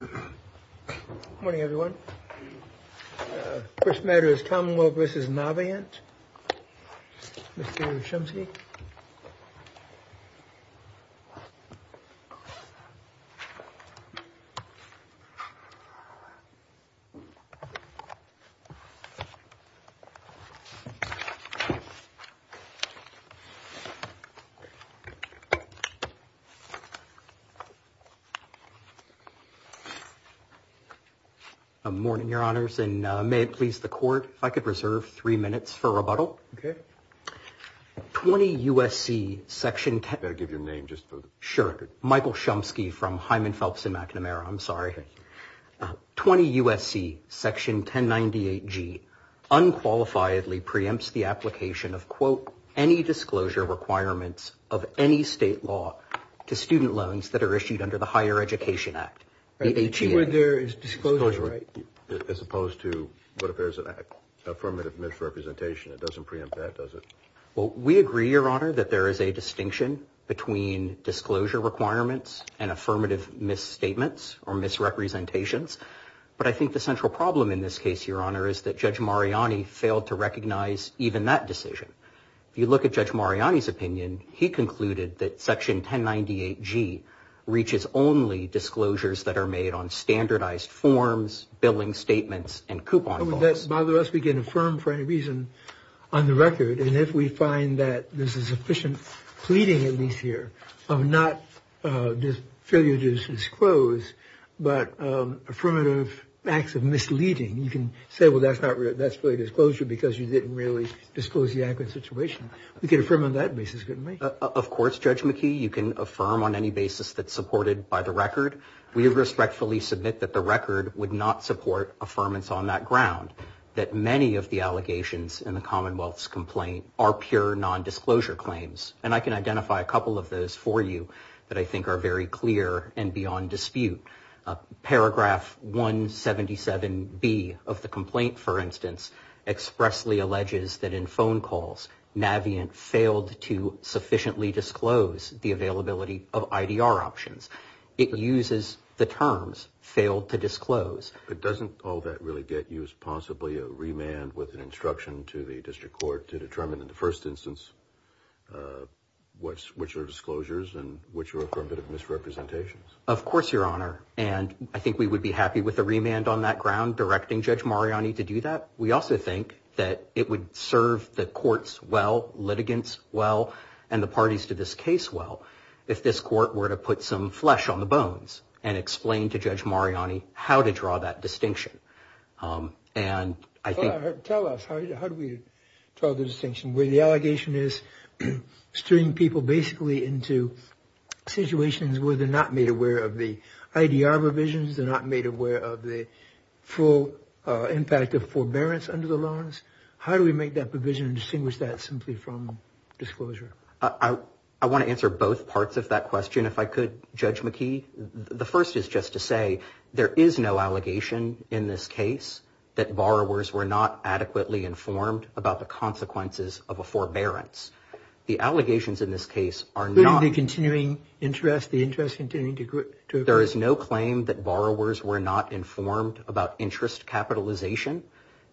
Good morning, everyone. First matter is Commonwealth versus Navient. Mr. Chomsky. Good morning, Your Honors, and may it please the Court if I could reserve three minutes for rebuttal. Okay. 20 U.S.C. Section 1098G unqualifiedly preempts the application of, quote, any disclosure requirements of any state law to student loans that are issued under the Higher Education Act. The key word there is disclosure, right? As opposed to what if there's an affirmative misrepresentation that doesn't preempt that, does it? Well, we agree, Your Honor, that there is a distinction between disclosure requirements and affirmative misstatements or misrepresentations. But I think the central problem in this case, Your Honor, is that Judge Mariani failed to recognize even that decision. If you look at Judge Mariani's opinion, he concluded that Section 1098G reaches only disclosures that are made on standardized forms, billing statements, and coupon forms. How would that bother us? We can affirm for any reason on the record. And if we find that there's a sufficient pleading, at least here, of not just failure to disclose but affirmative acts of misleading, you can say, well, that's really disclosure because you didn't really disclose the accurate situation. We can affirm on that basis, couldn't we? Of course, Judge McKee, you can affirm on any basis that's supported by the record. We respectfully submit that the record would not support affirmance on that ground, that many of the allegations in the Commonwealth's complaint are pure nondisclosure claims. And I can identify a couple of those for you that I think are very clear and beyond dispute. Paragraph 177B of the complaint, for instance, expressly alleges that in phone calls, Navient failed to sufficiently disclose the availability of IDR options. It uses the terms failed to disclose. But doesn't all that really get you as possibly a remand with an instruction to the district court to determine in the first instance which are disclosures and which are a bit of misrepresentations? Of course, Your Honor. And I think we would be happy with a remand on that ground directing Judge Mariani to do that. We also think that it would serve the courts well, litigants well, and the parties to this case well, if this court were to put some flesh on the bones and explain to Judge Mariani how to draw that distinction. Tell us, how do we draw the distinction where the allegation is steering people basically into situations where they're not made aware of the IDR provisions, they're not made aware of the full impact of forbearance under the loans? How do we make that provision and distinguish that simply from disclosure? I want to answer both parts of that question, if I could, Judge McKee. The first is just to say there is no allegation in this case that borrowers were not adequately informed about the consequences of a forbearance. The allegations in this case are not... Including the continuing interest, the interest continuing to grow. There is no claim that borrowers were not informed about interest capitalization.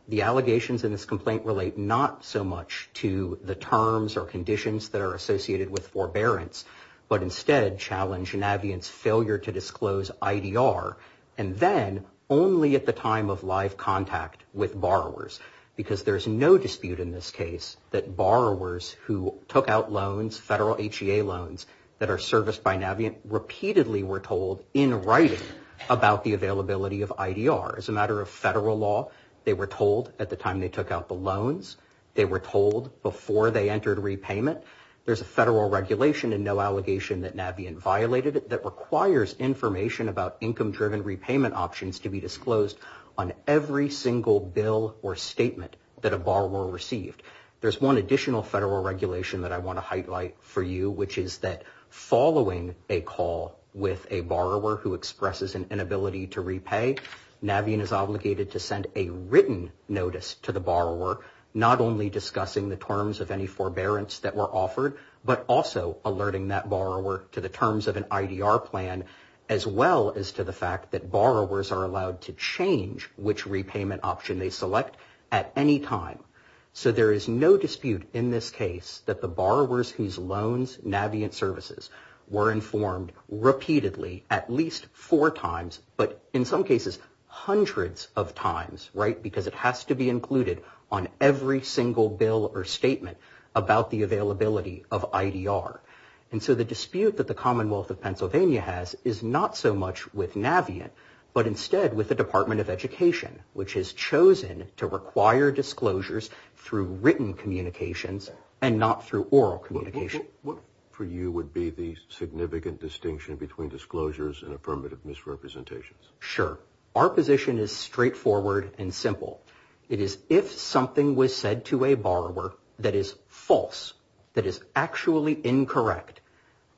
The allegations in this complaint relate not so much to the terms or conditions that are associated with forbearance, but instead challenge Navient's failure to disclose IDR, and then only at the time of live contact with borrowers. Because there's no dispute in this case that borrowers who took out loans, federal HEA loans that are serviced by Navient, repeatedly were told in writing about the availability of IDR. As a matter of federal law, they were told at the time they took out the loans. They were told before they entered repayment. There's a federal regulation and no allegation that Navient violated it that requires information about income-driven repayment options to be disclosed on every single bill or statement that a borrower received. There's one additional federal regulation that I want to highlight for you, which is that following a call with a borrower who expresses an inability to repay, Navient is obligated to send a written notice to the borrower, not only discussing the terms of any forbearance that were offered, but also alerting that borrower to the terms of an IDR plan, as well as to the fact that borrowers are allowed to change which repayment option they select at any time. So there is no dispute in this case that the borrowers whose loans Navient services were informed repeatedly at least four times, but in some cases hundreds of times, right, because it has to be included on every single bill or statement about the availability of IDR. And so the dispute that the Commonwealth of Pennsylvania has is not so much with Navient, but instead with the Department of Education, which has chosen to require disclosures through written communications and not through oral communication. What for you would be the significant distinction between disclosures and affirmative misrepresentations? Sure. Our position is straightforward and simple. It is if something was said to a borrower that is false, that is actually incorrect,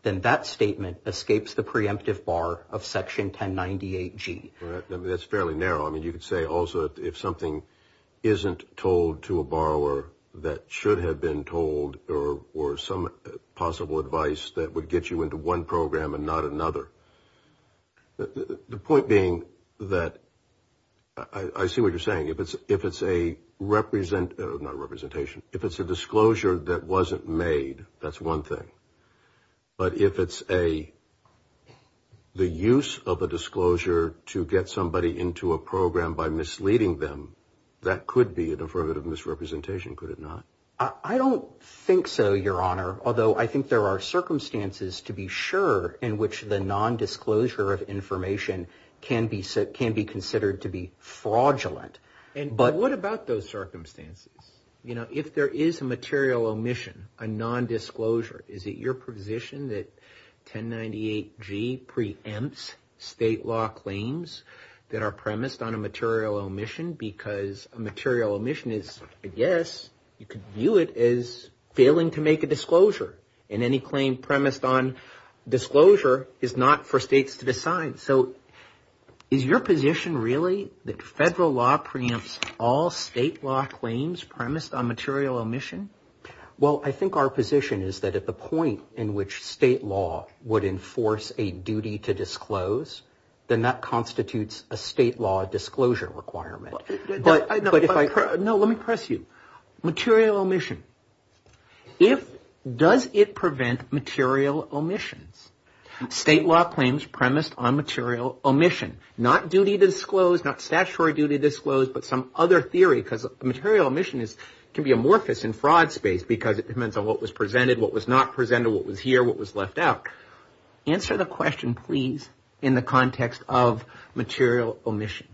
then that statement escapes the preemptive bar of Section 1098G. That is fairly narrow. I mean, you could say also if something isn't told to a borrower that should have been told or some possible advice that would get you into one program and not another. The point being that I see what you're saying. If it's a representation, if it's a disclosure that wasn't made, that's one thing. But if it's a the use of a disclosure to get somebody into a program by misleading them, that could be an affirmative misrepresentation, could it not? I don't think so, Your Honor, although I think there are circumstances to be sure in which the nondisclosure of information can be said can be considered to be fraudulent. But what about those circumstances? You know, if there is a material omission, a nondisclosure, is it your position that 1098G preempts state law claims that are premised on a material omission? Well, I think our position is that at the point in which state law would enforce a duty to disclose, then that constitutes a state law disclosure requirement. No, let me press you. Material omission, does it prevent material omissions? State law claims premised on material omission, not duty to disclose, not statutory duty to disclose, but some other theory because material omission can be amorphous in fraud space because it depends on what was presented, what was not presented, what was here, what was left out. Answer the question, please, in the context of material omission.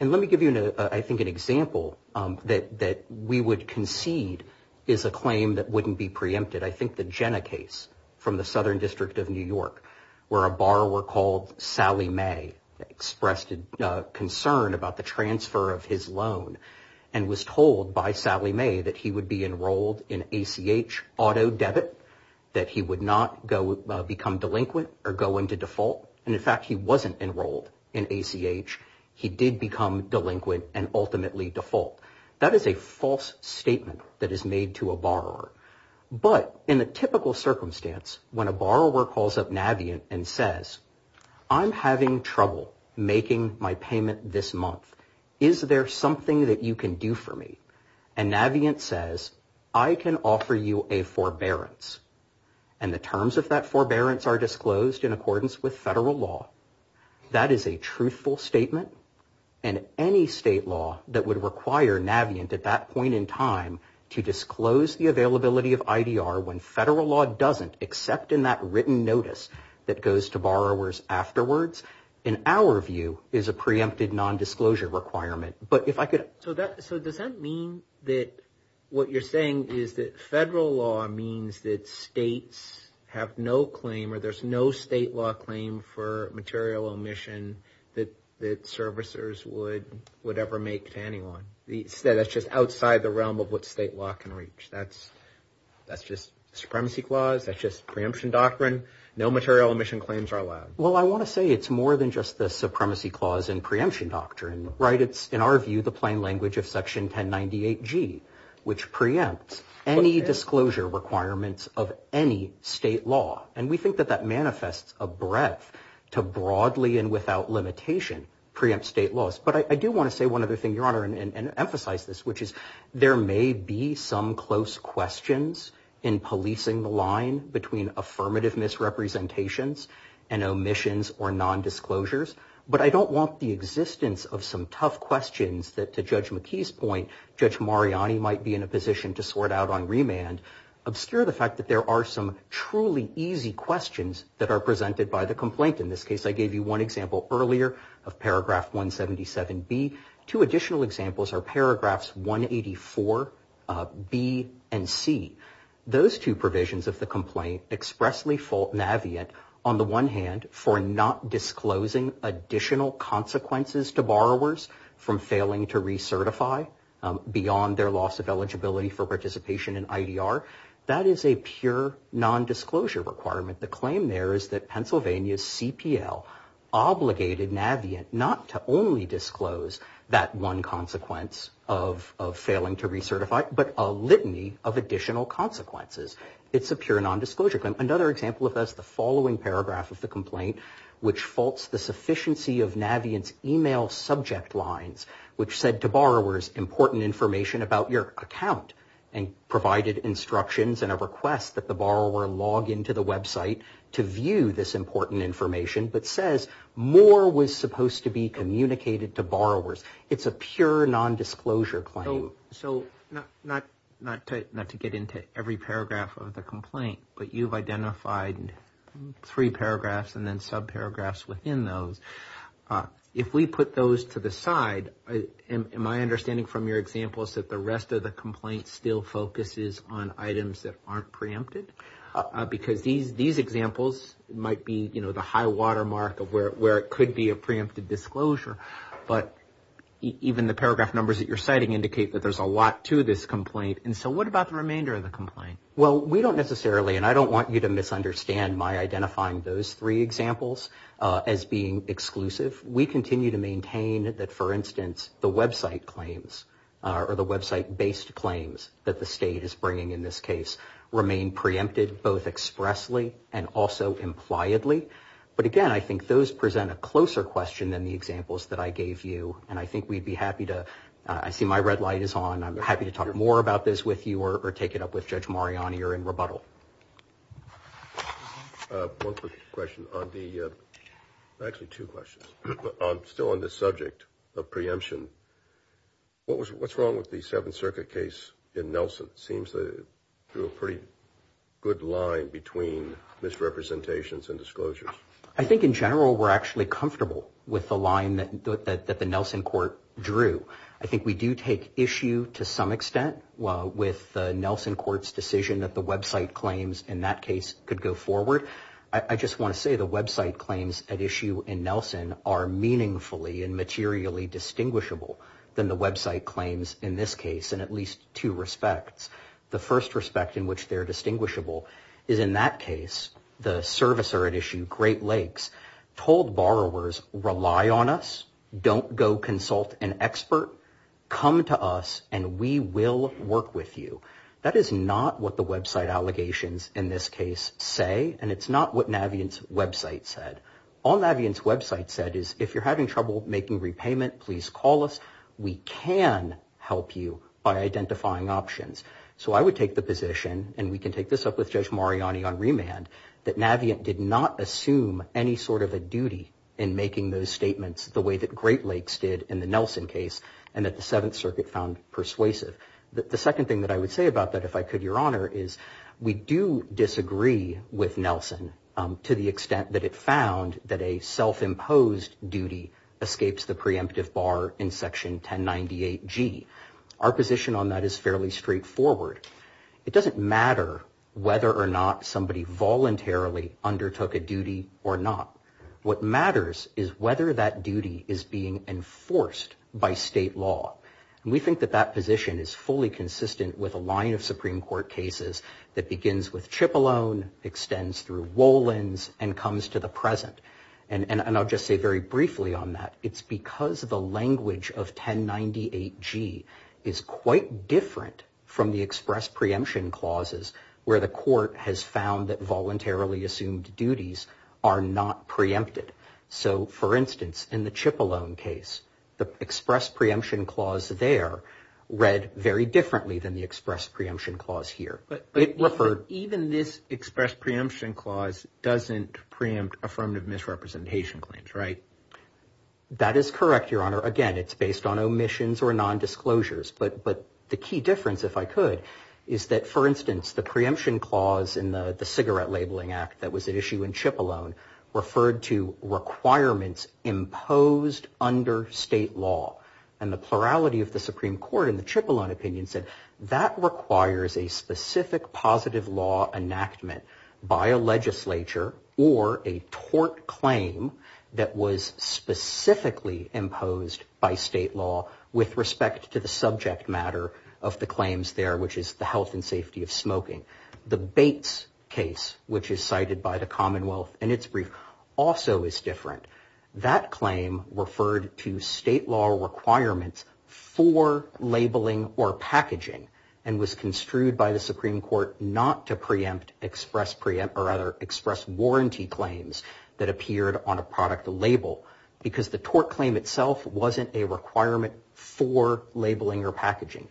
And let me give you, I think, an example that we would concede is a claim that wouldn't be preempted. case from the Southern District of New York where a borrower called Sally May expressed concern about the transfer of his loan and was told by Sally May that he would be enrolled in ACH auto debit, that he would not become delinquent or go into default. And in fact, he wasn't enrolled in ACH. He did become delinquent and ultimately default. That is a false statement that is made to a borrower. But in the typical circumstance, when a borrower calls up Navient and says, I'm having trouble making my payment this month, is there something that you can do for me? And Navient says, I can offer you a forbearance. And the terms of that forbearance are disclosed in accordance with federal law. That is a truthful statement. And any state law that would require Navient at that point in time to disclose the availability of IDR when federal law doesn't except in that written notice that goes to borrowers afterwards, in our view, is a preempted nondisclosure requirement. So does that mean that what you're saying is that federal law means that states have no claim or there's no state law claim for material omission that servicers would ever make to anyone? That's just outside the realm of what state law can reach. That's just supremacy clause. That's just preemption doctrine. No material omission claims are allowed. Well, I want to say it's more than just the supremacy clause and preemption doctrine. Right. It's, in our view, the plain language of Section 1098G, which preempts any disclosure requirements of any state law. And we think that that manifests a breadth to broadly and without limitation preempt state laws. But I do want to say one other thing, Your Honor, and emphasize this, which is there may be some close questions in policing the line between affirmative misrepresentations and omissions or nondisclosures. But I don't want the existence of some tough questions that, to Judge McKee's point, Judge Mariani might be in a position to sort out on remand, obscure the fact that there are some truly easy questions that are presented by the complaint. In this case, I gave you one example earlier of Paragraph 177B. Two additional examples are Paragraphs 184B and C. Those two provisions of the complaint expressly fault Navient, on the one hand, for not disclosing additional consequences to borrowers from failing to recertify beyond their loss of eligibility for participation in IDR. That is a pure nondisclosure requirement. The claim there is that Pennsylvania's CPL obligated Navient not to only disclose that one consequence of failing to recertify, but a litany of additional consequences. It's a pure nondisclosure claim. Another example of this, the following paragraph of the complaint, which faults the sufficiency of Navient's email subject lines, which said to borrowers, important information about your account, and provided instructions and a request that the borrower log into the website to view this important information, but says more was supposed to be communicated to borrowers. It's a pure nondisclosure claim. So, not to get into every paragraph of the complaint, but you've identified three paragraphs and then subparagraphs within those. If we put those to the side, my understanding from your example is that the rest of the complaint still focuses on items that aren't preempted. Because these examples might be, you know, the high watermark of where it could be a preempted disclosure, but even the paragraph numbers that you're citing indicate that there's a lot to this complaint. And so, what about the remainder of the complaint? Well, we don't necessarily, and I don't want you to misunderstand my identifying those three examples as being exclusive. We continue to maintain that, for instance, the website claims or the website-based claims that the state is bringing in this case remain preempted, both expressly and also impliedly. But again, I think those present a closer question than the examples that I gave you, and I think we'd be happy to, I see my red light is on. I'm happy to talk more about this with you or take it up with Judge Mariani or in rebuttal. One quick question on the, actually two questions, still on the subject of preemption. What's wrong with the Seventh Circuit case in Nelson? It seems that it drew a pretty good line between misrepresentations and disclosures. I think in general, we're actually comfortable with the line that the Nelson court drew. I think we do take issue to some extent with the Nelson court's decision that the website claims in that case could go forward. I just want to say the website claims at issue in Nelson are meaningfully and materially distinguishable than the website claims in this case in at least two respects. The first respect in which they're distinguishable is in that case, the servicer at issue, Great Lakes, told borrowers, rely on us. Don't go consult an expert. Come to us and we will work with you. That is not what the website allegations in this case say, and it's not what Navient's website said. All Navient's website said is, if you're having trouble making repayment, please call us. We can help you by identifying options. So I would take the position, and we can take this up with Judge Mariani on remand, that Navient did not assume any sort of a duty in making those statements the way that Great Lakes did in the Nelson case, and that the Seventh Circuit found persuasive. The second thing that I would say about that, if I could, Your Honor, is we do disagree with Nelson to the extent that it found that a self-imposed duty escapes the preemptive bar in Section 1098G. Our position on that is fairly straightforward. It doesn't matter whether or not somebody voluntarily undertook a duty or not. What matters is whether that duty is being enforced by state law. And we think that that position is fully consistent with a line of Supreme Court cases that begins with Cipollone, extends through Wolins, and comes to the present. And I'll just say very briefly on that. It's because the language of 1098G is quite different from the express preemption clauses where the court has found that voluntarily assumed duties are not preempted. So, for instance, in the Cipollone case, the express preemption clause there read very differently than the express preemption clause here. But even this express preemption clause doesn't preempt affirmative misrepresentation claims, right? That is correct, Your Honor. Again, it's based on omissions or nondisclosures. But the key difference, if I could, is that, for instance, the preemption clause in the Cigarette Labeling Act that was at issue in Cipollone referred to requirements imposed under state law. And the plurality of the Supreme Court in the Cipollone opinion said that requires a specific positive law enactment by a legislature or a tort claim that was specifically imposed by state law with respect to the subject matter of the claims there, which is the health and safety of smoking. The Bates case, which is cited by the Commonwealth in its brief, also is different. That claim referred to state law requirements for labeling or packaging and was construed by the Supreme Court not to preempt express preempt or other express warranty claims that appeared on a product label because the tort claim itself wasn't a requirement for labeling or packaging.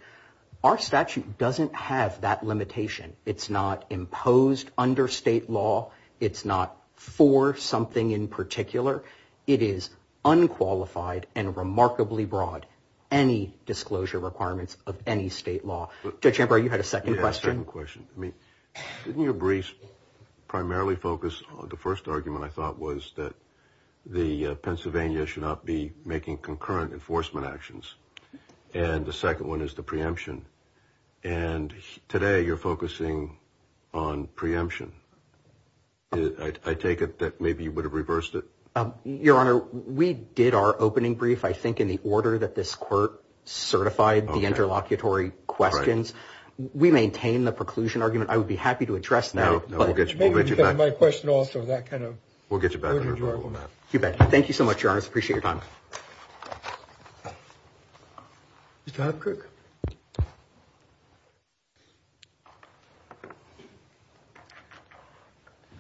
Our statute doesn't have that limitation. It's not imposed under state law. It's not for something in particular. It is unqualified and remarkably broad. Any disclosure requirements of any state law. Judge Ambrose, you had a second question. Didn't your brief primarily focus on the first argument, I thought, was that the Pennsylvania should not be making concurrent enforcement actions. And the second one is the preemption. And today you're focusing on preemption. I take it that maybe you would have reversed it. Your Honor, we did our opening brief, I think, in the order that this court certified the interlocutory questions. We maintain the preclusion argument. I would be happy to address that. My question also that kind of we'll get you back. Thank you so much. Thank you, Your Honor. I appreciate your time. Mr. Hopkirk.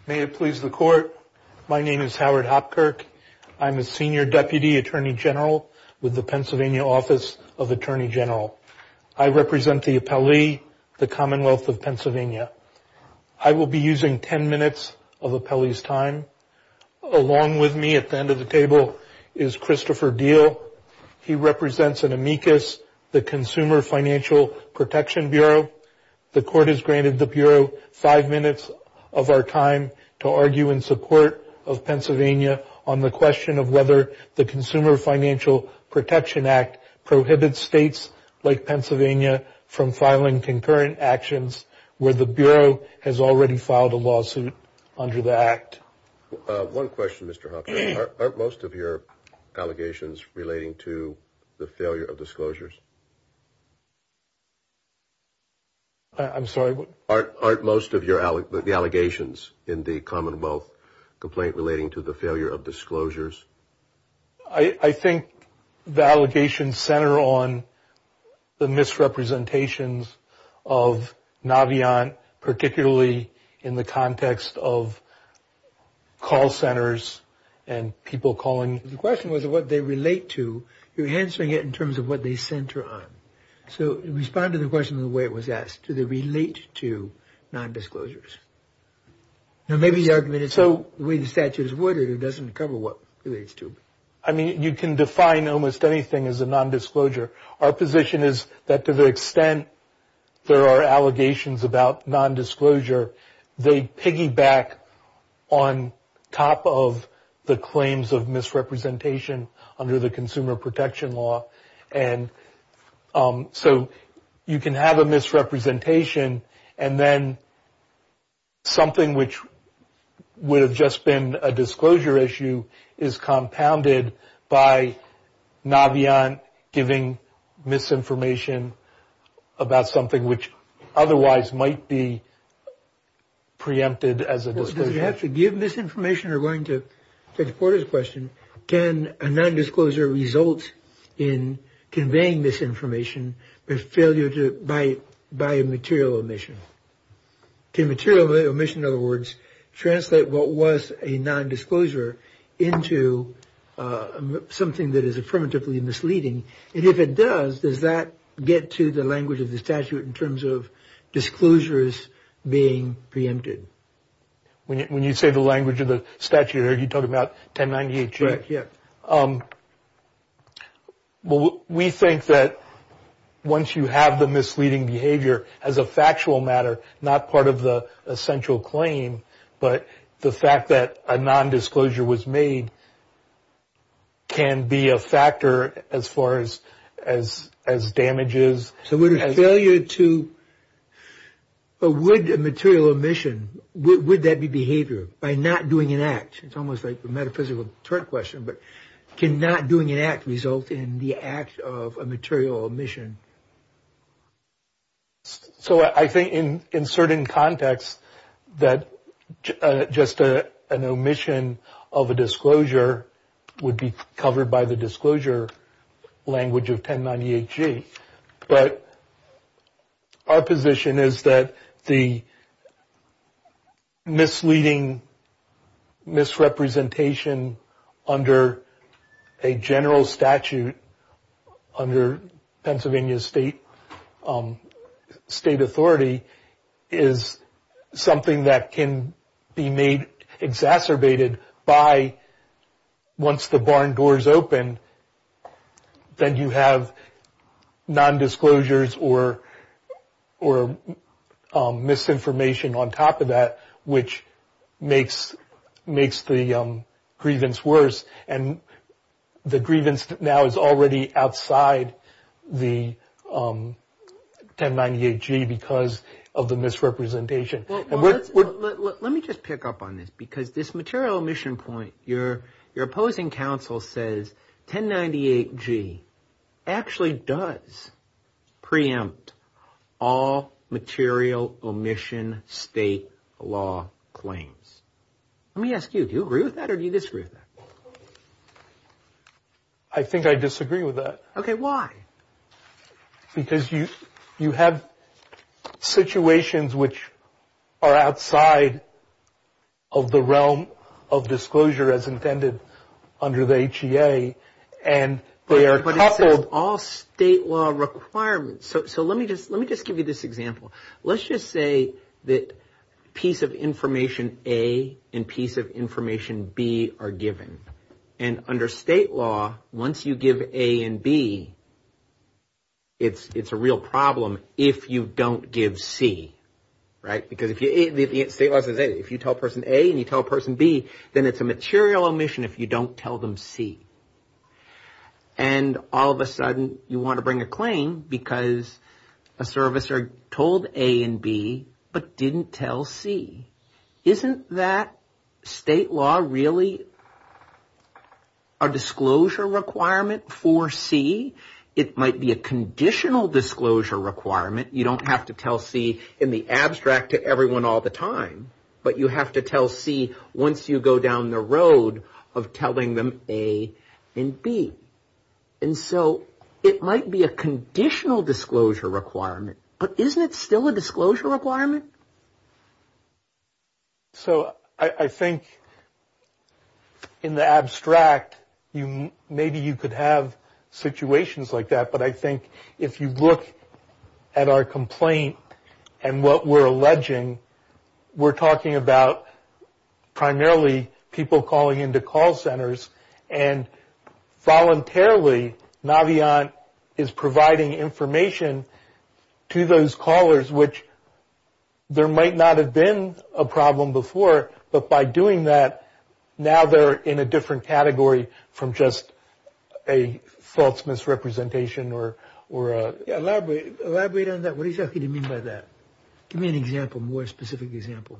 May it please the court. My name is Howard Hopkirk. I'm a senior deputy attorney general with the Pennsylvania Office of Attorney General. I represent the appellee, the Commonwealth of Pennsylvania. I will be using ten minutes of the appellee's time. Along with me at the end of the table is Christopher Diehl. He represents an amicus, the Consumer Financial Protection Bureau. The court has granted the Bureau five minutes of our time to argue in support of Pennsylvania on the question of whether the Consumer Financial Protection Act prohibits states like Pennsylvania from filing concurrent actions where the Bureau has already filed a lawsuit under the Act. One question, Mr. Hopkirk. Aren't most of your allegations relating to the failure of disclosures? I'm sorry? Aren't most of the allegations in the Commonwealth complaint relating to the failure of disclosures? I think the allegations center on the misrepresentations of Navient, particularly in the context of call centers and people calling. The question was what they relate to. You're answering it in terms of what they center on. So respond to the question the way it was asked. Do they relate to non-disclosures? Maybe the argument is so the way the statute is worded it doesn't cover what it relates to. I mean, you can define almost anything as a non-disclosure. Our position is that to the extent there are allegations about non-disclosure, they piggyback on top of the claims of misrepresentation under the Consumer Protection Law. And so you can have a misrepresentation, and then something which would have just been a disclosure issue is compounded by Navient giving misinformation about something which otherwise might be preempted as a disclosure issue. So to give misinformation, or going to Judge Porter's question, can a non-disclosure result in conveying misinformation by a material omission? Can material omission, in other words, translate what was a non-disclosure into something that is affirmatively misleading? And if it does, does that get to the language of the statute in terms of disclosures being preempted? When you say the language of the statute, you're talking about 1098G? Right, yeah. Well, we think that once you have the misleading behavior as a factual matter, not part of the essential claim, but the fact that a non-disclosure was made can be a factor as far as damages. So would a failure to, or would a material omission, would that be behavior? By not doing an act, it's almost like a metaphysical turn question, but can not doing an act result in the act of a material omission? So I think in certain contexts that just an omission of a disclosure would be covered by the disclosure language of 1098G. But our position is that the misleading misrepresentation under a general statute, under Pennsylvania State authority, is something that can be made exacerbated by, once the barn doors open, then you have non-disclosures or misinformation on top of that, which makes the grievance worse. And the grievance now is already outside the 1098G because of the misrepresentation. Let me just pick up on this because this material omission point, your opposing counsel says, 1098G actually does preempt all material omission state law claims. Let me ask you, do you agree with that or do you disagree with that? I think I disagree with that. Okay, why? Because you have situations which are outside of the realm of disclosure as intended under the HEA and they are coupled. But it says all state law requirements. So let me just give you this example. Let's just say that piece of information A and piece of information B are given. And under state law, once you give A and B, it's a real problem if you don't give C, right? Because if you tell person A and you tell person B, then it's a material omission if you don't tell them C. And all of a sudden, you want to bring a claim because a servicer told A and B but didn't tell C. Isn't that state law really a disclosure requirement for C? It might be a conditional disclosure requirement. You don't have to tell C in the abstract to everyone all the time. But you have to tell C once you go down the road of telling them A and B. And so it might be a conditional disclosure requirement. But isn't it still a disclosure requirement? So I think in the abstract, maybe you could have situations like that. But I think if you look at our complaint and what we're alleging, we're talking about primarily people calling into call centers. And voluntarily, Naviant is providing information to those callers, which there might not have been a problem before. But by doing that, now they're in a different category from just a false misrepresentation. Elaborate on that. What exactly do you mean by that? Give me an example, a more specific example.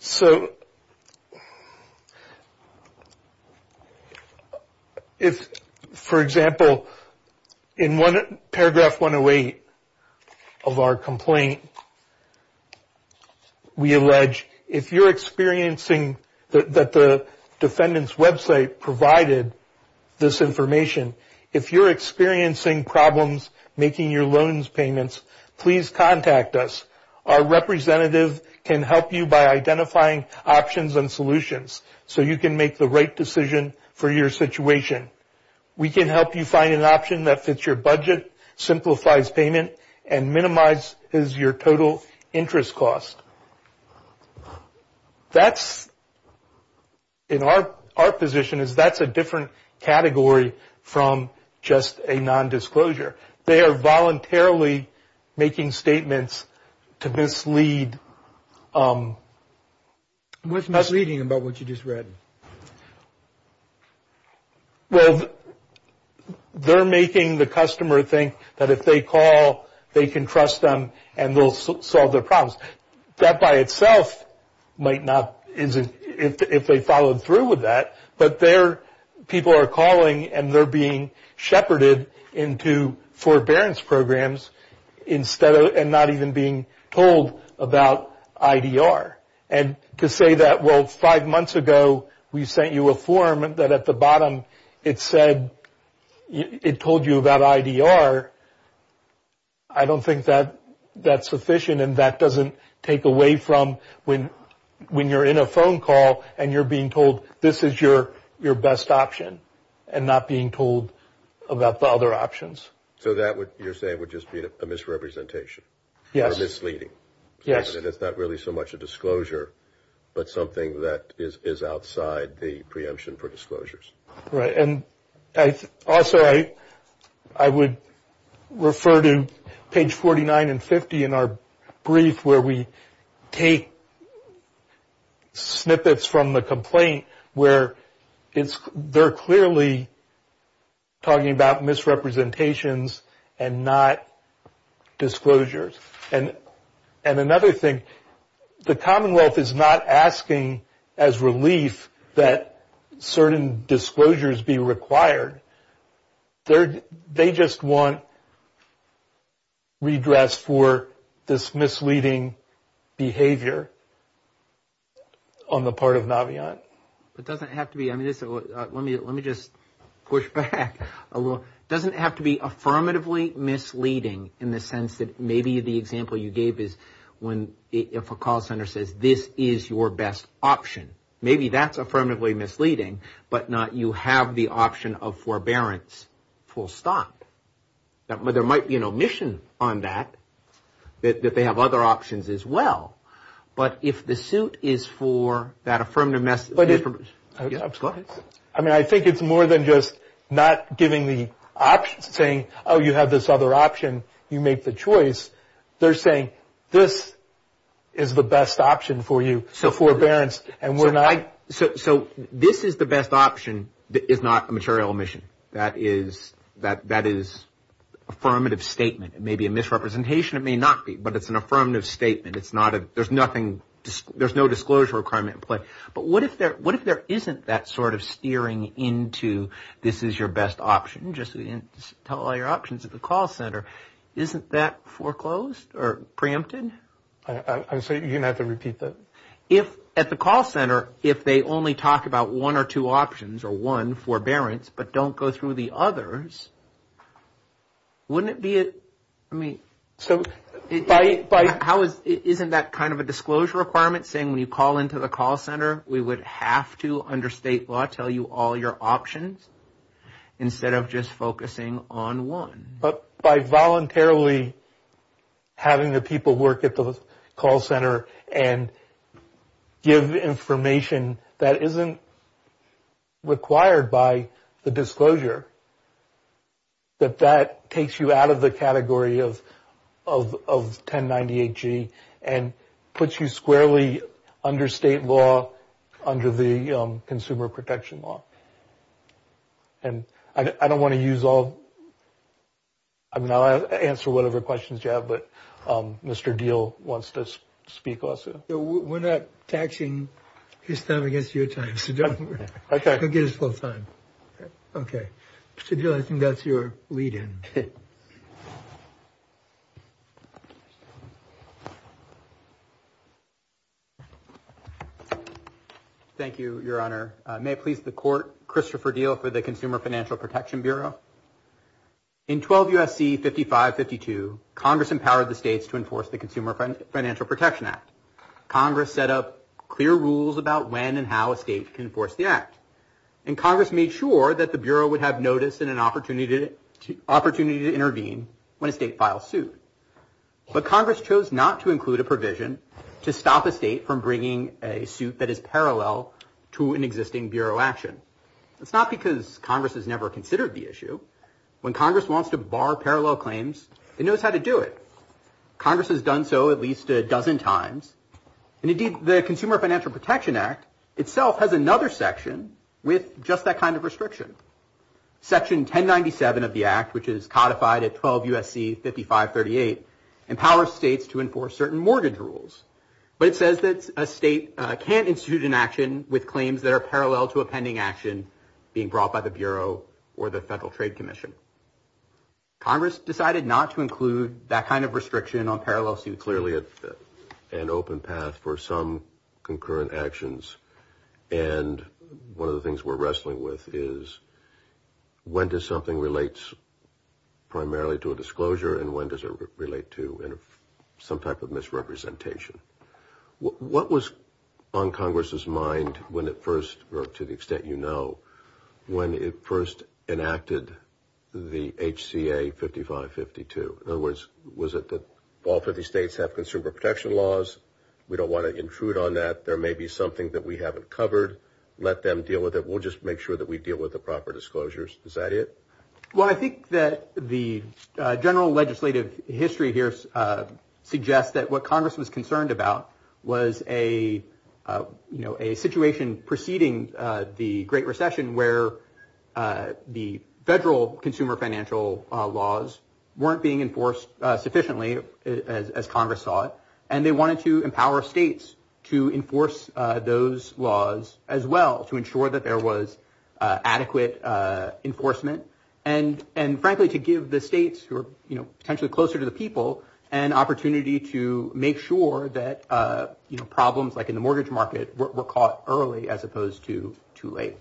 So if, for example, in paragraph 108 of our complaint, we allege if you're experiencing that the defendant's website provided this information, if you're experiencing problems making your loans payments, please contact us. Our representative can help you by identifying options and solutions so you can make the right decision for your situation. We can help you find an option that fits your budget, simplifies payment, and minimizes your total interest cost. That's, in our position, that's a different category from just a nondisclosure. They are voluntarily making statements to mislead. What's misleading about what you just read? Well, they're making the customer think that if they call, they can trust them and they'll solve their problems. That by itself might not, if they followed through with that, but people are calling and they're being shepherded into forbearance programs and not even being told about IDR. And to say that, well, five months ago we sent you a form that at the bottom it said, it told you about IDR, I don't think that's sufficient and that doesn't take away from when you're in a phone call and you're being told this is your best option and not being told about the other options. So that, you're saying, would just be a misrepresentation or misleading? Yes. And it's not really so much a disclosure, but something that is outside the preemption for disclosures. Right. And also I would refer to page 49 and 50 in our brief where we take snippets from the complaint where they're clearly talking about misrepresentations and not disclosures. And another thing, the Commonwealth is not asking as relief that certain disclosures be required. They just want redress for this misleading behavior on the part of Naviant. It doesn't have to be. Let me just push back a little. It doesn't have to be affirmatively misleading in the sense that maybe the example you gave is if a call center says this is your best option, maybe that's affirmatively misleading, but not you have the option of forbearance full stop. There might be an omission on that, that they have other options as well, but if the suit is for that affirmative message. I mean, I think it's more than just not giving the option, saying, oh, you have this other option, you make the choice. They're saying this is the best option for you, for forbearance, so this is the best option is not a material omission. That is affirmative statement. It may be a misrepresentation. It may not be, but it's an affirmative statement. There's no disclosure requirement in place. But what if there isn't that sort of steering into this is your best option, just tell all your options at the call center. Isn't that foreclosed or preempted? So you're going to have to repeat that? If at the call center, if they only talk about one or two options or one forbearance, but don't go through the others, wouldn't it be a, I mean, isn't that kind of a disclosure requirement saying when you call into the call center, we would have to under state law tell you all your options instead of just focusing on one? But by voluntarily having the people work at the call center and give information that isn't required by the disclosure, that that takes you out of the category of 1098G and puts you squarely under state law under the consumer protection law. And I don't want to use all. I mean, I'll answer whatever questions you have. But Mr. Deal wants to speak also. We're not taxing his time against your time. So go get his full time. OK. Mr. Deal, I think that's your lead in. Thank you, Your Honor. May it please the Court, Christopher Deal for the Consumer Financial Protection Bureau. In 12 U.S.C. 5552, Congress empowered the states to enforce the Consumer Financial Protection Act. Congress set up clear rules about when and how a state can enforce the act. And Congress made sure that the Bureau would have notice and an opportunity to intervene when a state files suit. But Congress chose not to include a provision to stop a state from bringing a suit that is parallel to an existing Bureau action. That's not because Congress has never considered the issue. When Congress wants to bar parallel claims, it knows how to do it. Congress has done so at least a dozen times. And indeed, the Consumer Financial Protection Act itself has another section with just that kind of restriction. Section 1097 of the act, which is codified at 12 U.S.C. 5538, empowers states to enforce certain mortgage rules. But it says that a state can't institute an action with claims that are parallel to a pending action being brought by the Bureau or the Federal Trade Commission. Congress decided not to include that kind of restriction on parallel suits. Clearly an open path for some concurrent actions. And one of the things we're wrestling with is when does something relate primarily to a disclosure and when does it relate to some type of misrepresentation? What was on Congress's mind when it first, or to the extent you know, when it first enacted the HCA 5552? In other words, was it that all 50 states have consumer protection laws? We don't want to intrude on that. There may be something that we haven't covered. Let them deal with it. We'll just make sure that we deal with the proper disclosures. Is that it? Well, I think that the general legislative history here suggests that what Congress was concerned about was a, you know, a situation preceding the Great Recession where the federal consumer financial laws weren't being enforced sufficiently, as Congress saw it. And they wanted to empower states to enforce those laws as well, to ensure that there was adequate enforcement and, frankly, to give the states who are, you know, potentially closer to the people, an opportunity to make sure that problems like in the mortgage market were caught early as opposed to too late.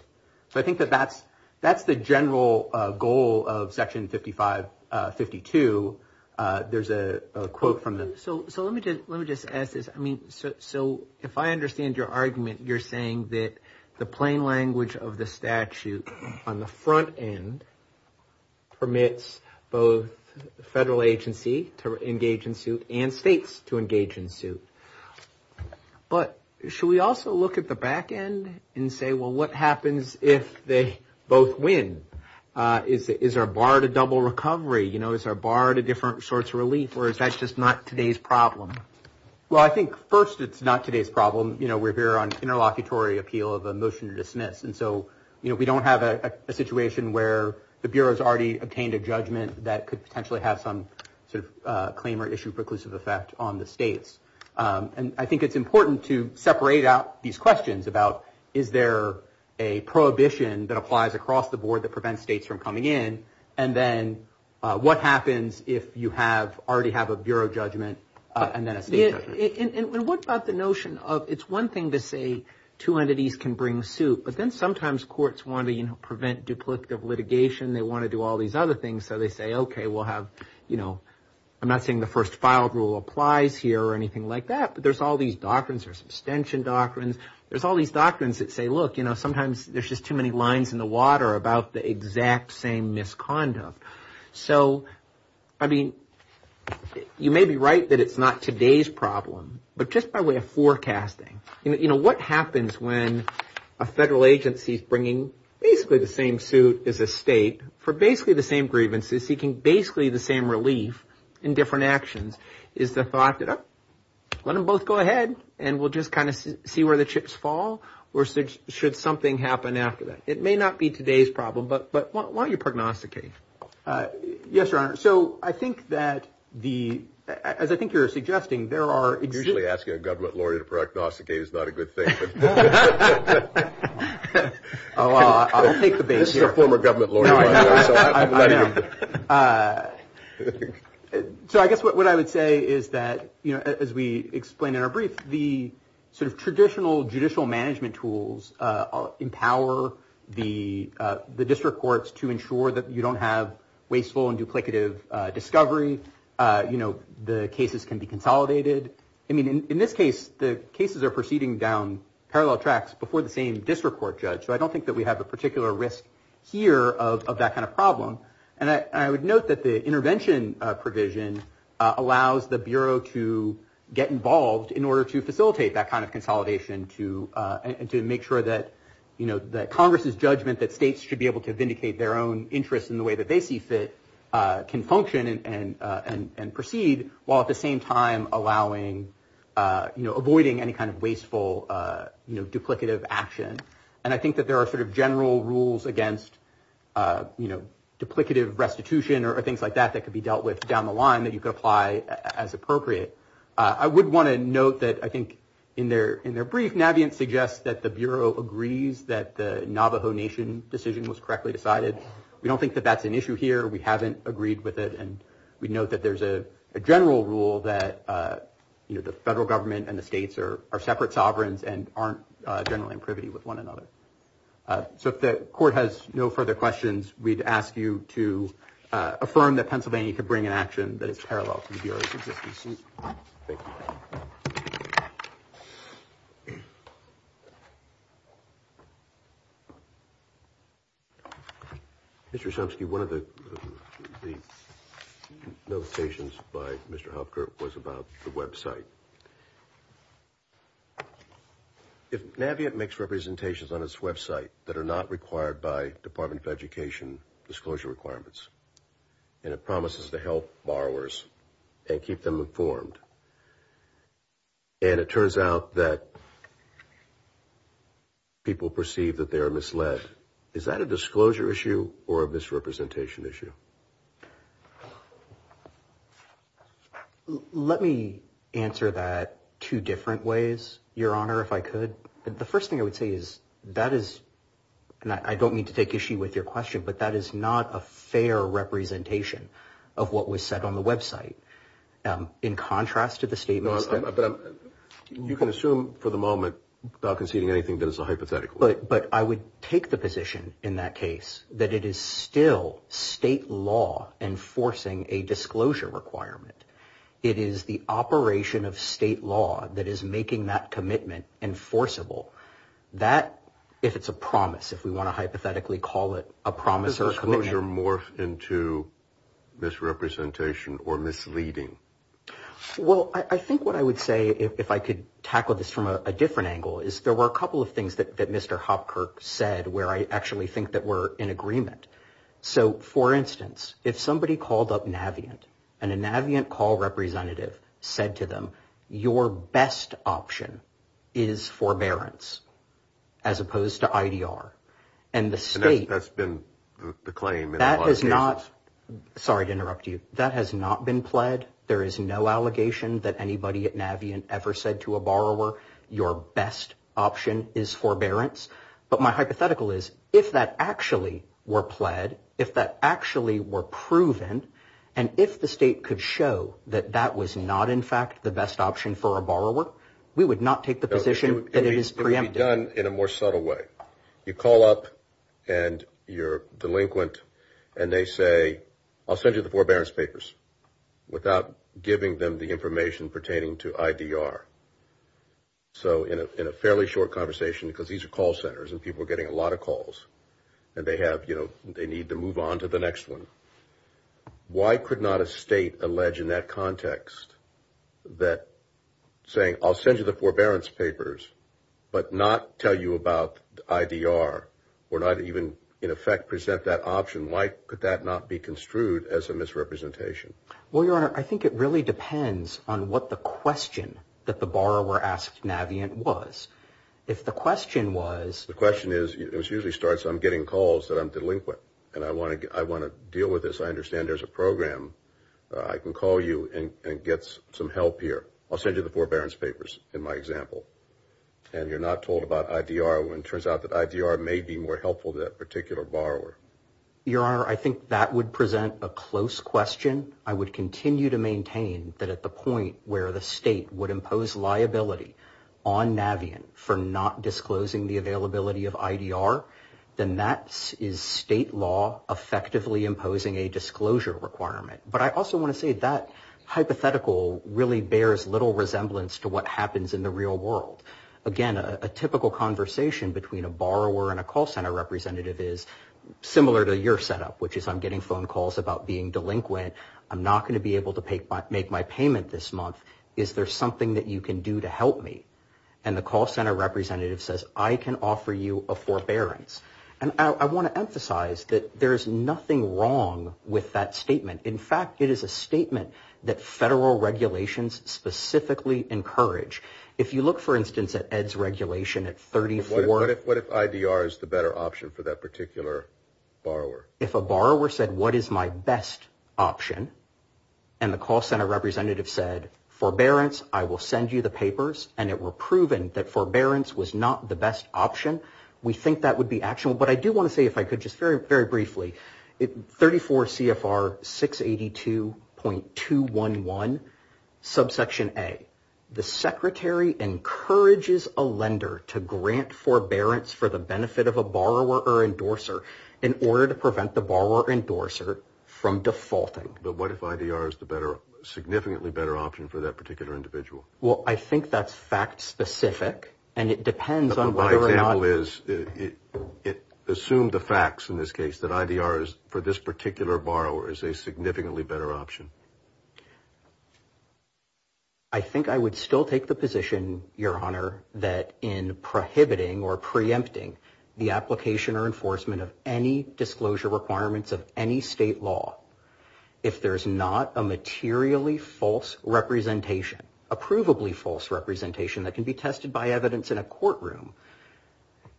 So I think that that's the general goal of Section 5552. There's a quote from the. So let me just ask this. I mean, so if I understand your argument, you're saying that the plain language of the statute on the front end permits both the federal agency to engage in suit and states to engage in suit. But should we also look at the back end and say, well, what happens if they both win? Is there a bar to double recovery? You know, is there a bar to different sorts of relief or is that just not today's problem? Well, I think first, it's not today's problem. You know, we're here on interlocutory appeal of a motion to dismiss. And so, you know, we don't have a situation where the bureau's already obtained a judgment that could potentially have some sort of claim or issue preclusive effect on the states. And I think it's important to separate out these questions about is there a prohibition that applies across the board that prevents states from coming in? And then what happens if you have already have a bureau judgment and then a state judgment? And what about the notion of it's one thing to say two entities can bring suit, but then sometimes courts want to prevent duplicative litigation. They want to do all these other things. So they say, OK, we'll have, you know, I'm not saying the first filed rule applies here or anything like that. But there's all these doctrines. There's abstention doctrines. There's all these doctrines that say, look, you know, So, I mean, you may be right that it's not today's problem. But just by way of forecasting, you know, what happens when a federal agency is bringing basically the same suit as a state for basically the same grievances, seeking basically the same relief in different actions is the thought that, oh, let them both go ahead and we'll just kind of see where the chips fall or should something happen after that? It may not be today's problem. But why don't you prognosticate? Yes, your honor. So I think that the as I think you're suggesting there are usually asking a government lawyer to prognosticate is not a good thing. Oh, I'll take the base of former government lawyer. So I guess what I would say is that, you know, as we explain in our brief, the sort of traditional judicial management tools empower the district courts to ensure that you don't have wasteful and duplicative discovery. You know, the cases can be consolidated. I mean, in this case, the cases are proceeding down parallel tracks before the same district court judge. So I don't think that we have a particular risk here of that kind of problem. And I would note that the intervention provision allows the bureau to get involved in order to facilitate that kind of consolidation to and to make sure that, you know, that Congress's judgment, that states should be able to vindicate their own interests in the way that they see fit can function and proceed, while at the same time allowing, you know, avoiding any kind of wasteful duplicative action. And I think that there are sort of general rules against, you know, duplicative restitution or things like that that could be dealt with down the line that you could apply as appropriate. I would want to note that I think in their in their brief, Navient suggests that the bureau agrees that the Navajo Nation decision was correctly decided. We don't think that that's an issue here. We haven't agreed with it. And we know that there's a general rule that, you know, the federal government and the states are separate sovereigns and aren't generally in privity with one another. So if the court has no further questions, we'd ask you to affirm that Pennsylvania could bring an action that is parallel to the bureau's existence. Thank you. Mr. Chomsky, one of the notations by Mr. Hopker was about the website. If Navient makes representations on its website that are not required by Department of Education disclosure requirements and it promises to help borrowers and keep them informed. And it turns out that people perceive that they are misled. Is that a disclosure issue or a misrepresentation issue? Let me answer that two different ways, Your Honor, if I could. The first thing I would say is that is and I don't mean to take issue with your question, but that is not a fair representation of what was said on the website. In contrast to the statements that you can assume for the moment, not conceding anything that is a hypothetical. But I would take the position in that case that it is still state law enforcing a disclosure requirement. It is the operation of state law that is making that commitment enforceable that if it's a promise, if we want to hypothetically call it a promise or a commitment. Does disclosure morph into misrepresentation or misleading? Well, I think what I would say, if I could tackle this from a different angle, is there were a couple of things that Mr. Hopker said where I actually think that we're in agreement. So, for instance, if somebody called up Navient and a Navient call representative said to them, your best option is forbearance as opposed to IDR. And that's been the claim in a lot of cases. Sorry to interrupt you. That has not been pled. There is no allegation that anybody at Navient ever said to a borrower, your best option is forbearance. But my hypothetical is if that actually were pled, if that actually were proven, and if the state could show that that was not, in fact, the best option for a borrower, we would not take the position that it is preempted. It would be done in a more subtle way. You call up and you're delinquent and they say, I'll send you the forbearance papers, without giving them the information pertaining to IDR. So in a fairly short conversation, because these are call centers and people are getting a lot of calls, and they have, you know, they need to move on to the next one. Why could not a state allege in that context that saying, I'll send you the forbearance papers, but not tell you about IDR, or not even in effect present that option, why could that not be construed as a misrepresentation? Well, Your Honor, I think it really depends on what the question that the borrower asked Navient was. If the question was. The question is, it usually starts, I'm getting calls that I'm delinquent, and I want to deal with this. I understand there's a program. I can call you and get some help here. I'll send you the forbearance papers in my example. And you're not told about IDR when it turns out that IDR may be more helpful to that particular borrower. Your Honor, I think that would present a close question. I would continue to maintain that at the point where the state would impose liability on Navient for not disclosing the availability of IDR, then that is state law effectively imposing a disclosure requirement. But I also want to say that hypothetical really bears little resemblance to what happens in the real world. Again, a typical conversation between a borrower and a call center representative is similar to your setup, which is I'm getting phone calls about being delinquent. I'm not going to be able to make my payment this month. Is there something that you can do to help me? And the call center representative says, I can offer you a forbearance. And I want to emphasize that there's nothing wrong with that statement. In fact, it is a statement that federal regulations specifically encourage. If you look, for instance, at Ed's regulation at 34. What if IDR is the better option for that particular borrower? If a borrower said, what is my best option? And the call center representative said, forbearance, I will send you the papers. And it were proven that forbearance was not the best option. We think that would be actionable. But I do want to say, if I could, just very, very briefly, 34 CFR 682.211, subsection A. The secretary encourages a lender to grant forbearance for the benefit of a borrower or endorser in order to prevent the borrower or endorser from defaulting. But what if IDR is the better, significantly better option for that particular individual? Well, I think that's fact specific. And it depends on whether or not. My example is, assume the facts in this case, that IDR is, for this particular borrower, is a significantly better option. I think I would still take the position, Your Honor, that in prohibiting or preempting the application or enforcement of any disclosure requirements of any state law, if there's not a materially false representation, a provably false representation that can be tested by evidence in a courtroom,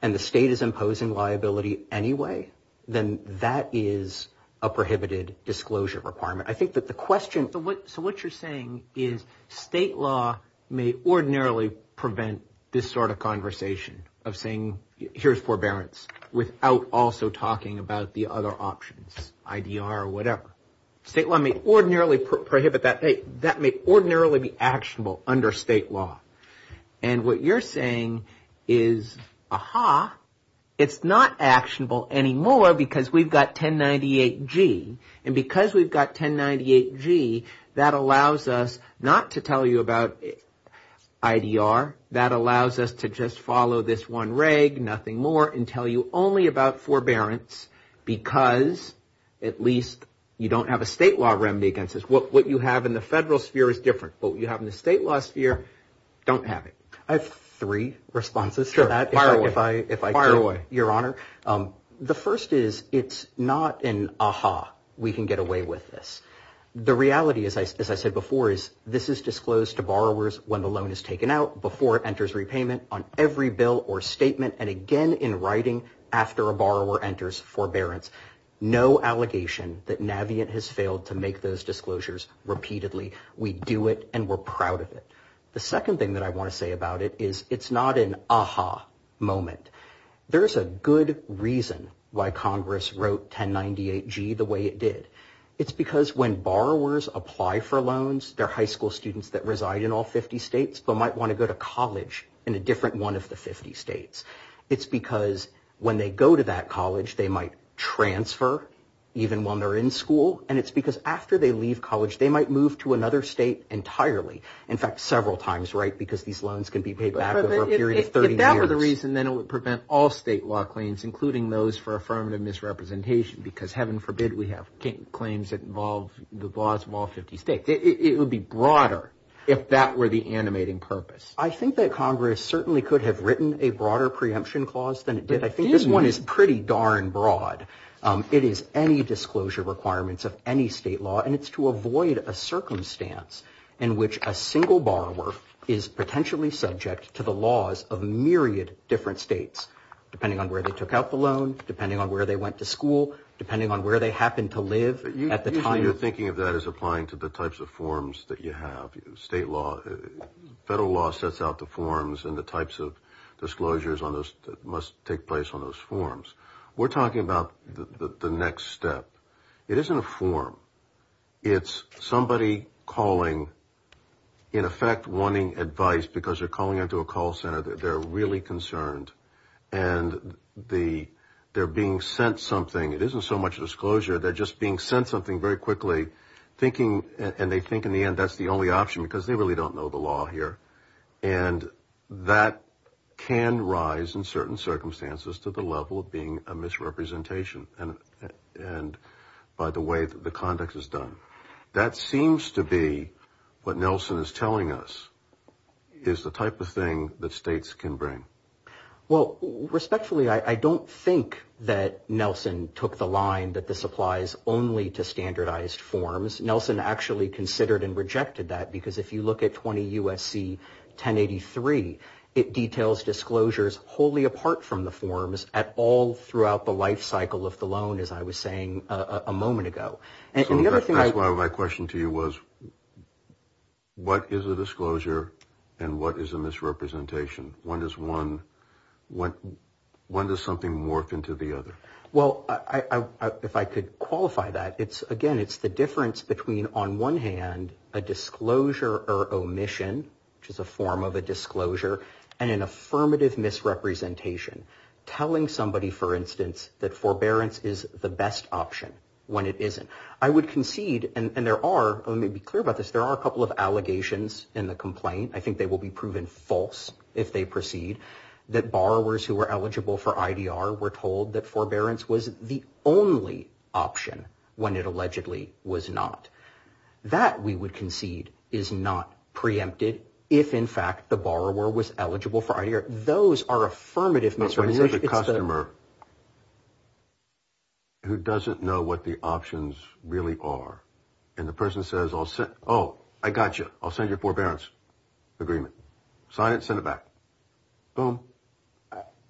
and the state is imposing liability anyway, then that is a prohibited disclosure requirement. I think that the question. So what you're saying is state law may ordinarily prevent this sort of conversation of saying, here's forbearance, without also talking about the other options, IDR or whatever. State law may ordinarily prohibit that. That may ordinarily be actionable under state law. And what you're saying is, aha, it's not actionable anymore because we've got 1098G. And because we've got 1098G, that allows us not to tell you about IDR. That allows us to just follow this one reg, nothing more, and tell you only about forbearance because at least you don't have a state law remedy against this. What you have in the federal sphere is different. What you have in the state law sphere, don't have it. I have three responses to that, if I could, Your Honor. The first is it's not an aha, we can get away with this. The reality, as I said before, is this is disclosed to borrowers when the loan is taken out, before it enters repayment on every bill or statement, and again in writing after a borrower enters forbearance. No allegation that Navient has failed to make those disclosures repeatedly. We do it, and we're proud of it. The second thing that I want to say about it is it's not an aha moment. There is a good reason why Congress wrote 1098G the way it did. It's because when borrowers apply for loans, they're high school students that reside in all 50 states, but might want to go to college in a different one of the 50 states. It's because when they go to that college, they might transfer even while they're in school, and it's because after they leave college, they might move to another state entirely, in fact, several times, right, because these loans can be paid back over a period of 30 years. If that were the reason, then it would prevent all state law claims, including those for affirmative misrepresentation, because heaven forbid we have claims that involve the laws of all 50 states. It would be broader if that were the animating purpose. I think that Congress certainly could have written a broader preemption clause than it did. I think this one is pretty darn broad. It is any disclosure requirements of any state law, and it's to avoid a circumstance in which a single borrower is potentially subject to the laws of myriad different states, depending on where they took out the loan, depending on where they went to school, depending on where they happen to live at the time. Usually you're thinking of that as applying to the types of forms that you have. State law, federal law sets out the forms and the types of disclosures that must take place on those forms. We're talking about the next step. It isn't a form. It's somebody calling, in effect wanting advice because they're calling into a call center. They're really concerned, and they're being sent something. It isn't so much a disclosure. They're just being sent something very quickly, and they think in the end that's the only option because they really don't know the law here, and that can rise in certain circumstances to the level of being a misrepresentation. And by the way that the context is done. That seems to be what Nelson is telling us is the type of thing that states can bring. Well, respectfully, I don't think that Nelson took the line that this applies only to standardized forms. Nelson actually considered and rejected that because if you look at 20 U.S.C. 1083, it details disclosures wholly apart from the forms at all throughout the life cycle of the loan, as I was saying a moment ago. So that's why my question to you was what is a disclosure, and what is a misrepresentation? When does something morph into the other? Well, if I could qualify that, again, it's the difference between, on one hand, a disclosure or omission, which is a form of a disclosure, and an affirmative misrepresentation, telling somebody, for instance, that forbearance is the best option when it isn't. I would concede, and there are, let me be clear about this, there are a couple of allegations in the complaint, I think they will be proven false if they proceed, that borrowers who are eligible for IDR were told that forbearance was the only option when it allegedly was not. That, we would concede, is not preempted if, in fact, the borrower was eligible for IDR. Those are affirmative misrepresentations. But when you have a customer who doesn't know what the options really are, and the person says, oh, I got you, I'll send you a forbearance agreement, sign it, send it back, boom.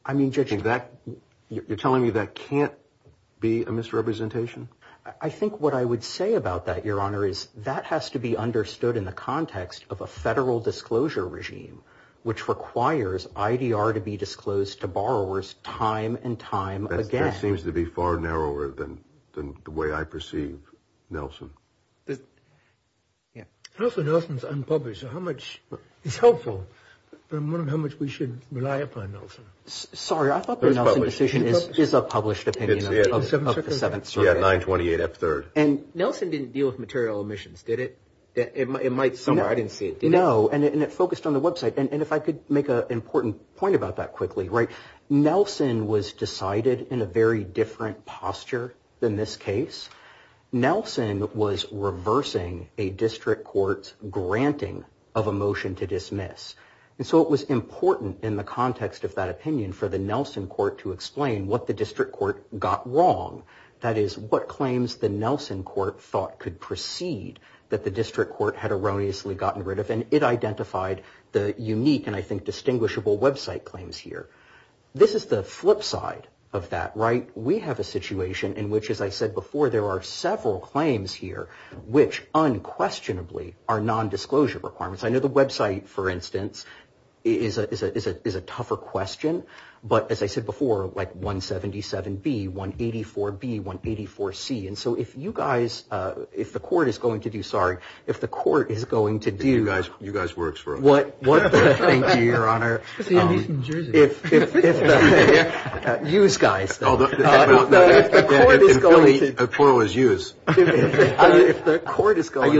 I mean, Judge. You're telling me that can't be a misrepresentation? I think what I would say about that, Your Honor, is that has to be understood in the context of a federal disclosure regime, which requires IDR to be disclosed to borrowers time and time again. That seems to be far narrower than the way I perceive Nelson. Nelson's unpublished, so how much is helpful, but I'm wondering how much we should rely upon Nelson. Sorry, I thought the Nelson decision is a published opinion of the Seventh Circuit. Yeah, 928F3rd. And Nelson didn't deal with material omissions, did it? It might somewhere. I didn't see it. No, and it focused on the website. And if I could make an important point about that quickly. Nelson was decided in a very different posture than this case. Nelson was reversing a district court's granting of a motion to dismiss. And so it was important in the context of that opinion for the Nelson court to explain what the district court got wrong. That is, what claims the Nelson court thought could proceed that the district court had erroneously gotten rid of. And it identified the unique and, I think, distinguishable website claims here. This is the flip side of that, right? We have a situation in which, as I said before, there are several claims here which unquestionably are nondisclosure requirements. I know the website, for instance, is a tougher question. But, as I said before, like 177B, 184B, 184C. And so if you guys, if the court is going to do, sorry. If the court is going to do. You guys work for us. Thank you, Your Honor. It's the American Jersey. Youse guys. The plural is youse. If the court is going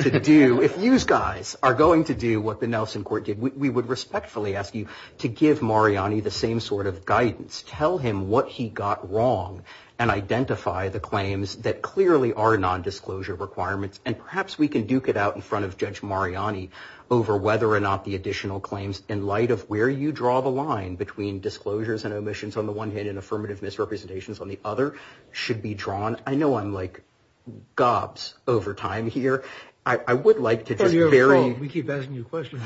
to do, if youse guys are going to do what the Nelson court did, we would respectfully ask you to give Mariani the same sort of guidance. Tell him what he got wrong and identify the claims that clearly are nondisclosure requirements. And perhaps we can duke it out in front of Judge Mariani over whether or not the additional claims, in light of where you draw the line between disclosures and omissions on the one hand and affirmative misrepresentations on the other, should be drawn. I know I'm like gobs over time here. I would like to just very. We keep asking you questions.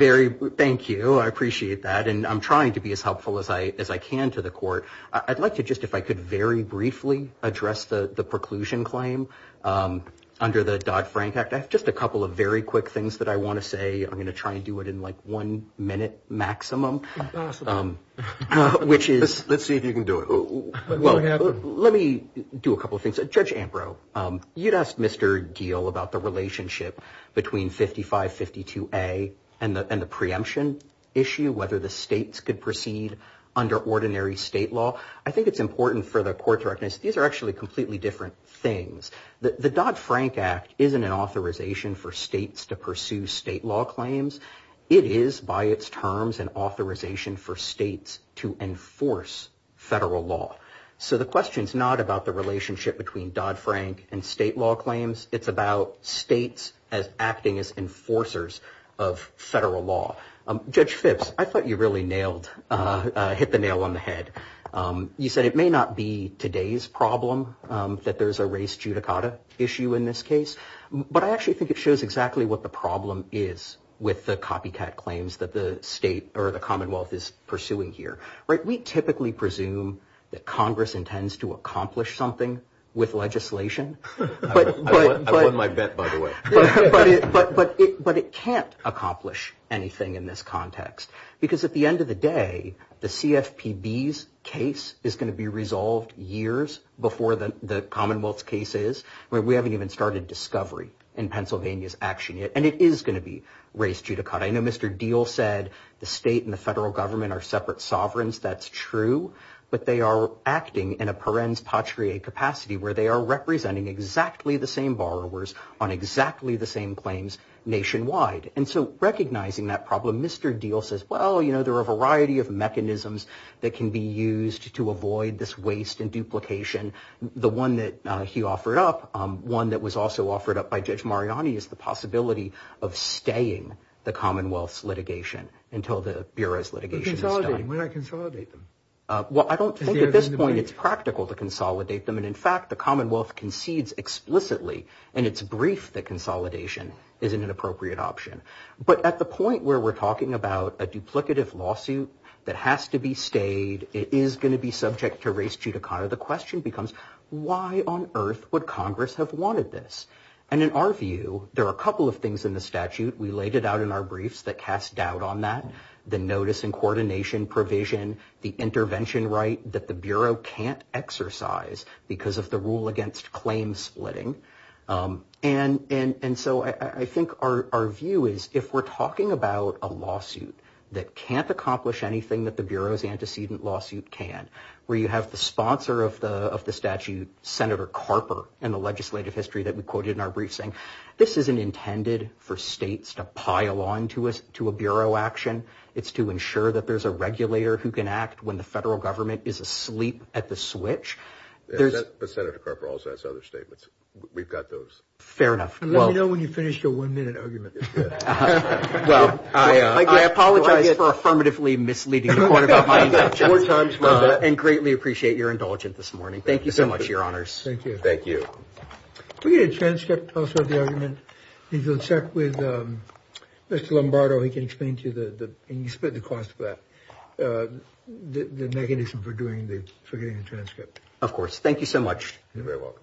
Thank you. I appreciate that. And I'm trying to be as helpful as I can to the court. I'd like to just, if I could very briefly address the preclusion claim under the Dodd-Frank Act. I have just a couple of very quick things that I want to say. I'm going to try and do it in like one minute maximum. Impossible. Let's see if you can do it. Let me do a couple of things. Judge Ambrose, you'd asked Mr. Geale about the relationship between 5552A and the preemption issue, whether the states could proceed under ordinary state law. I think it's important for the court to recognize these are actually completely different things. The Dodd-Frank Act isn't an authorization for states to pursue state law claims. It is, by its terms, an authorization for states to enforce federal law. So the question is not about the relationship between Dodd-Frank and state law claims. It's about states acting as enforcers of federal law. Judge Phipps, I thought you really nailed, hit the nail on the head. You said it may not be today's problem that there's a race judicata issue in this case, but I actually think it shows exactly what the problem is with the copycat claims that the state or the Commonwealth is pursuing here. We typically presume that Congress intends to accomplish something with legislation. I won my bet, by the way. But it can't accomplish anything in this context, because at the end of the day, the CFPB's case is going to be resolved years before the Commonwealth's case is. We haven't even started discovery in Pennsylvania's action yet, and it is going to be race judicata. I know Mr. Deal said the state and the federal government are separate sovereigns. That's true. But they are acting in a parens patrie capacity where they are representing exactly the same borrowers on exactly the same claims nationwide. And so recognizing that problem, Mr. Deal says, well, you know, there are a variety of mechanisms that can be used to avoid this waste and duplication. The one that he offered up, one that was also offered up by Judge Mariani, is the possibility of staying the Commonwealth's litigation until the Bureau's litigation is done. Consolidating. Why not consolidate them? Well, I don't think at this point it's practical to consolidate them. And in fact, the Commonwealth concedes explicitly in its brief that consolidation isn't an appropriate option. But at the point where we're talking about a duplicative lawsuit that has to be stayed, it is going to be subject to race judicata. The question becomes, why on earth would Congress have wanted this? And in our view, there are a couple of things in the statute. We laid it out in our briefs that cast doubt on that. The notice and coordination provision, the intervention right that the Bureau can't exercise because of the rule against claim splitting. And so I think our view is, if we're talking about a lawsuit that can't accomplish anything that the Bureau's antecedent lawsuit can, where you have the sponsor of the statute, Senator Carper, in the legislative history that we quoted in our brief saying, this isn't intended for states to pile on to a Bureau action. It's to ensure that there's a regulator who can act when the federal government is asleep at the switch. But Senator Carper also has other statements. We've got those. Fair enough. Let me know when you finish your one minute argument. Well, I apologize for affirmatively misleading the Court of Appendage four times, and greatly appreciate your indulgence this morning. Thank you so much, Your Honors. Thank you. Thank you. Can we get a transcript of the argument? If you'll check with Mr. Lombardo, he can explain to you the cost of that, the mechanism for doing the transcript. Of course. Thank you so much. You're very welcome.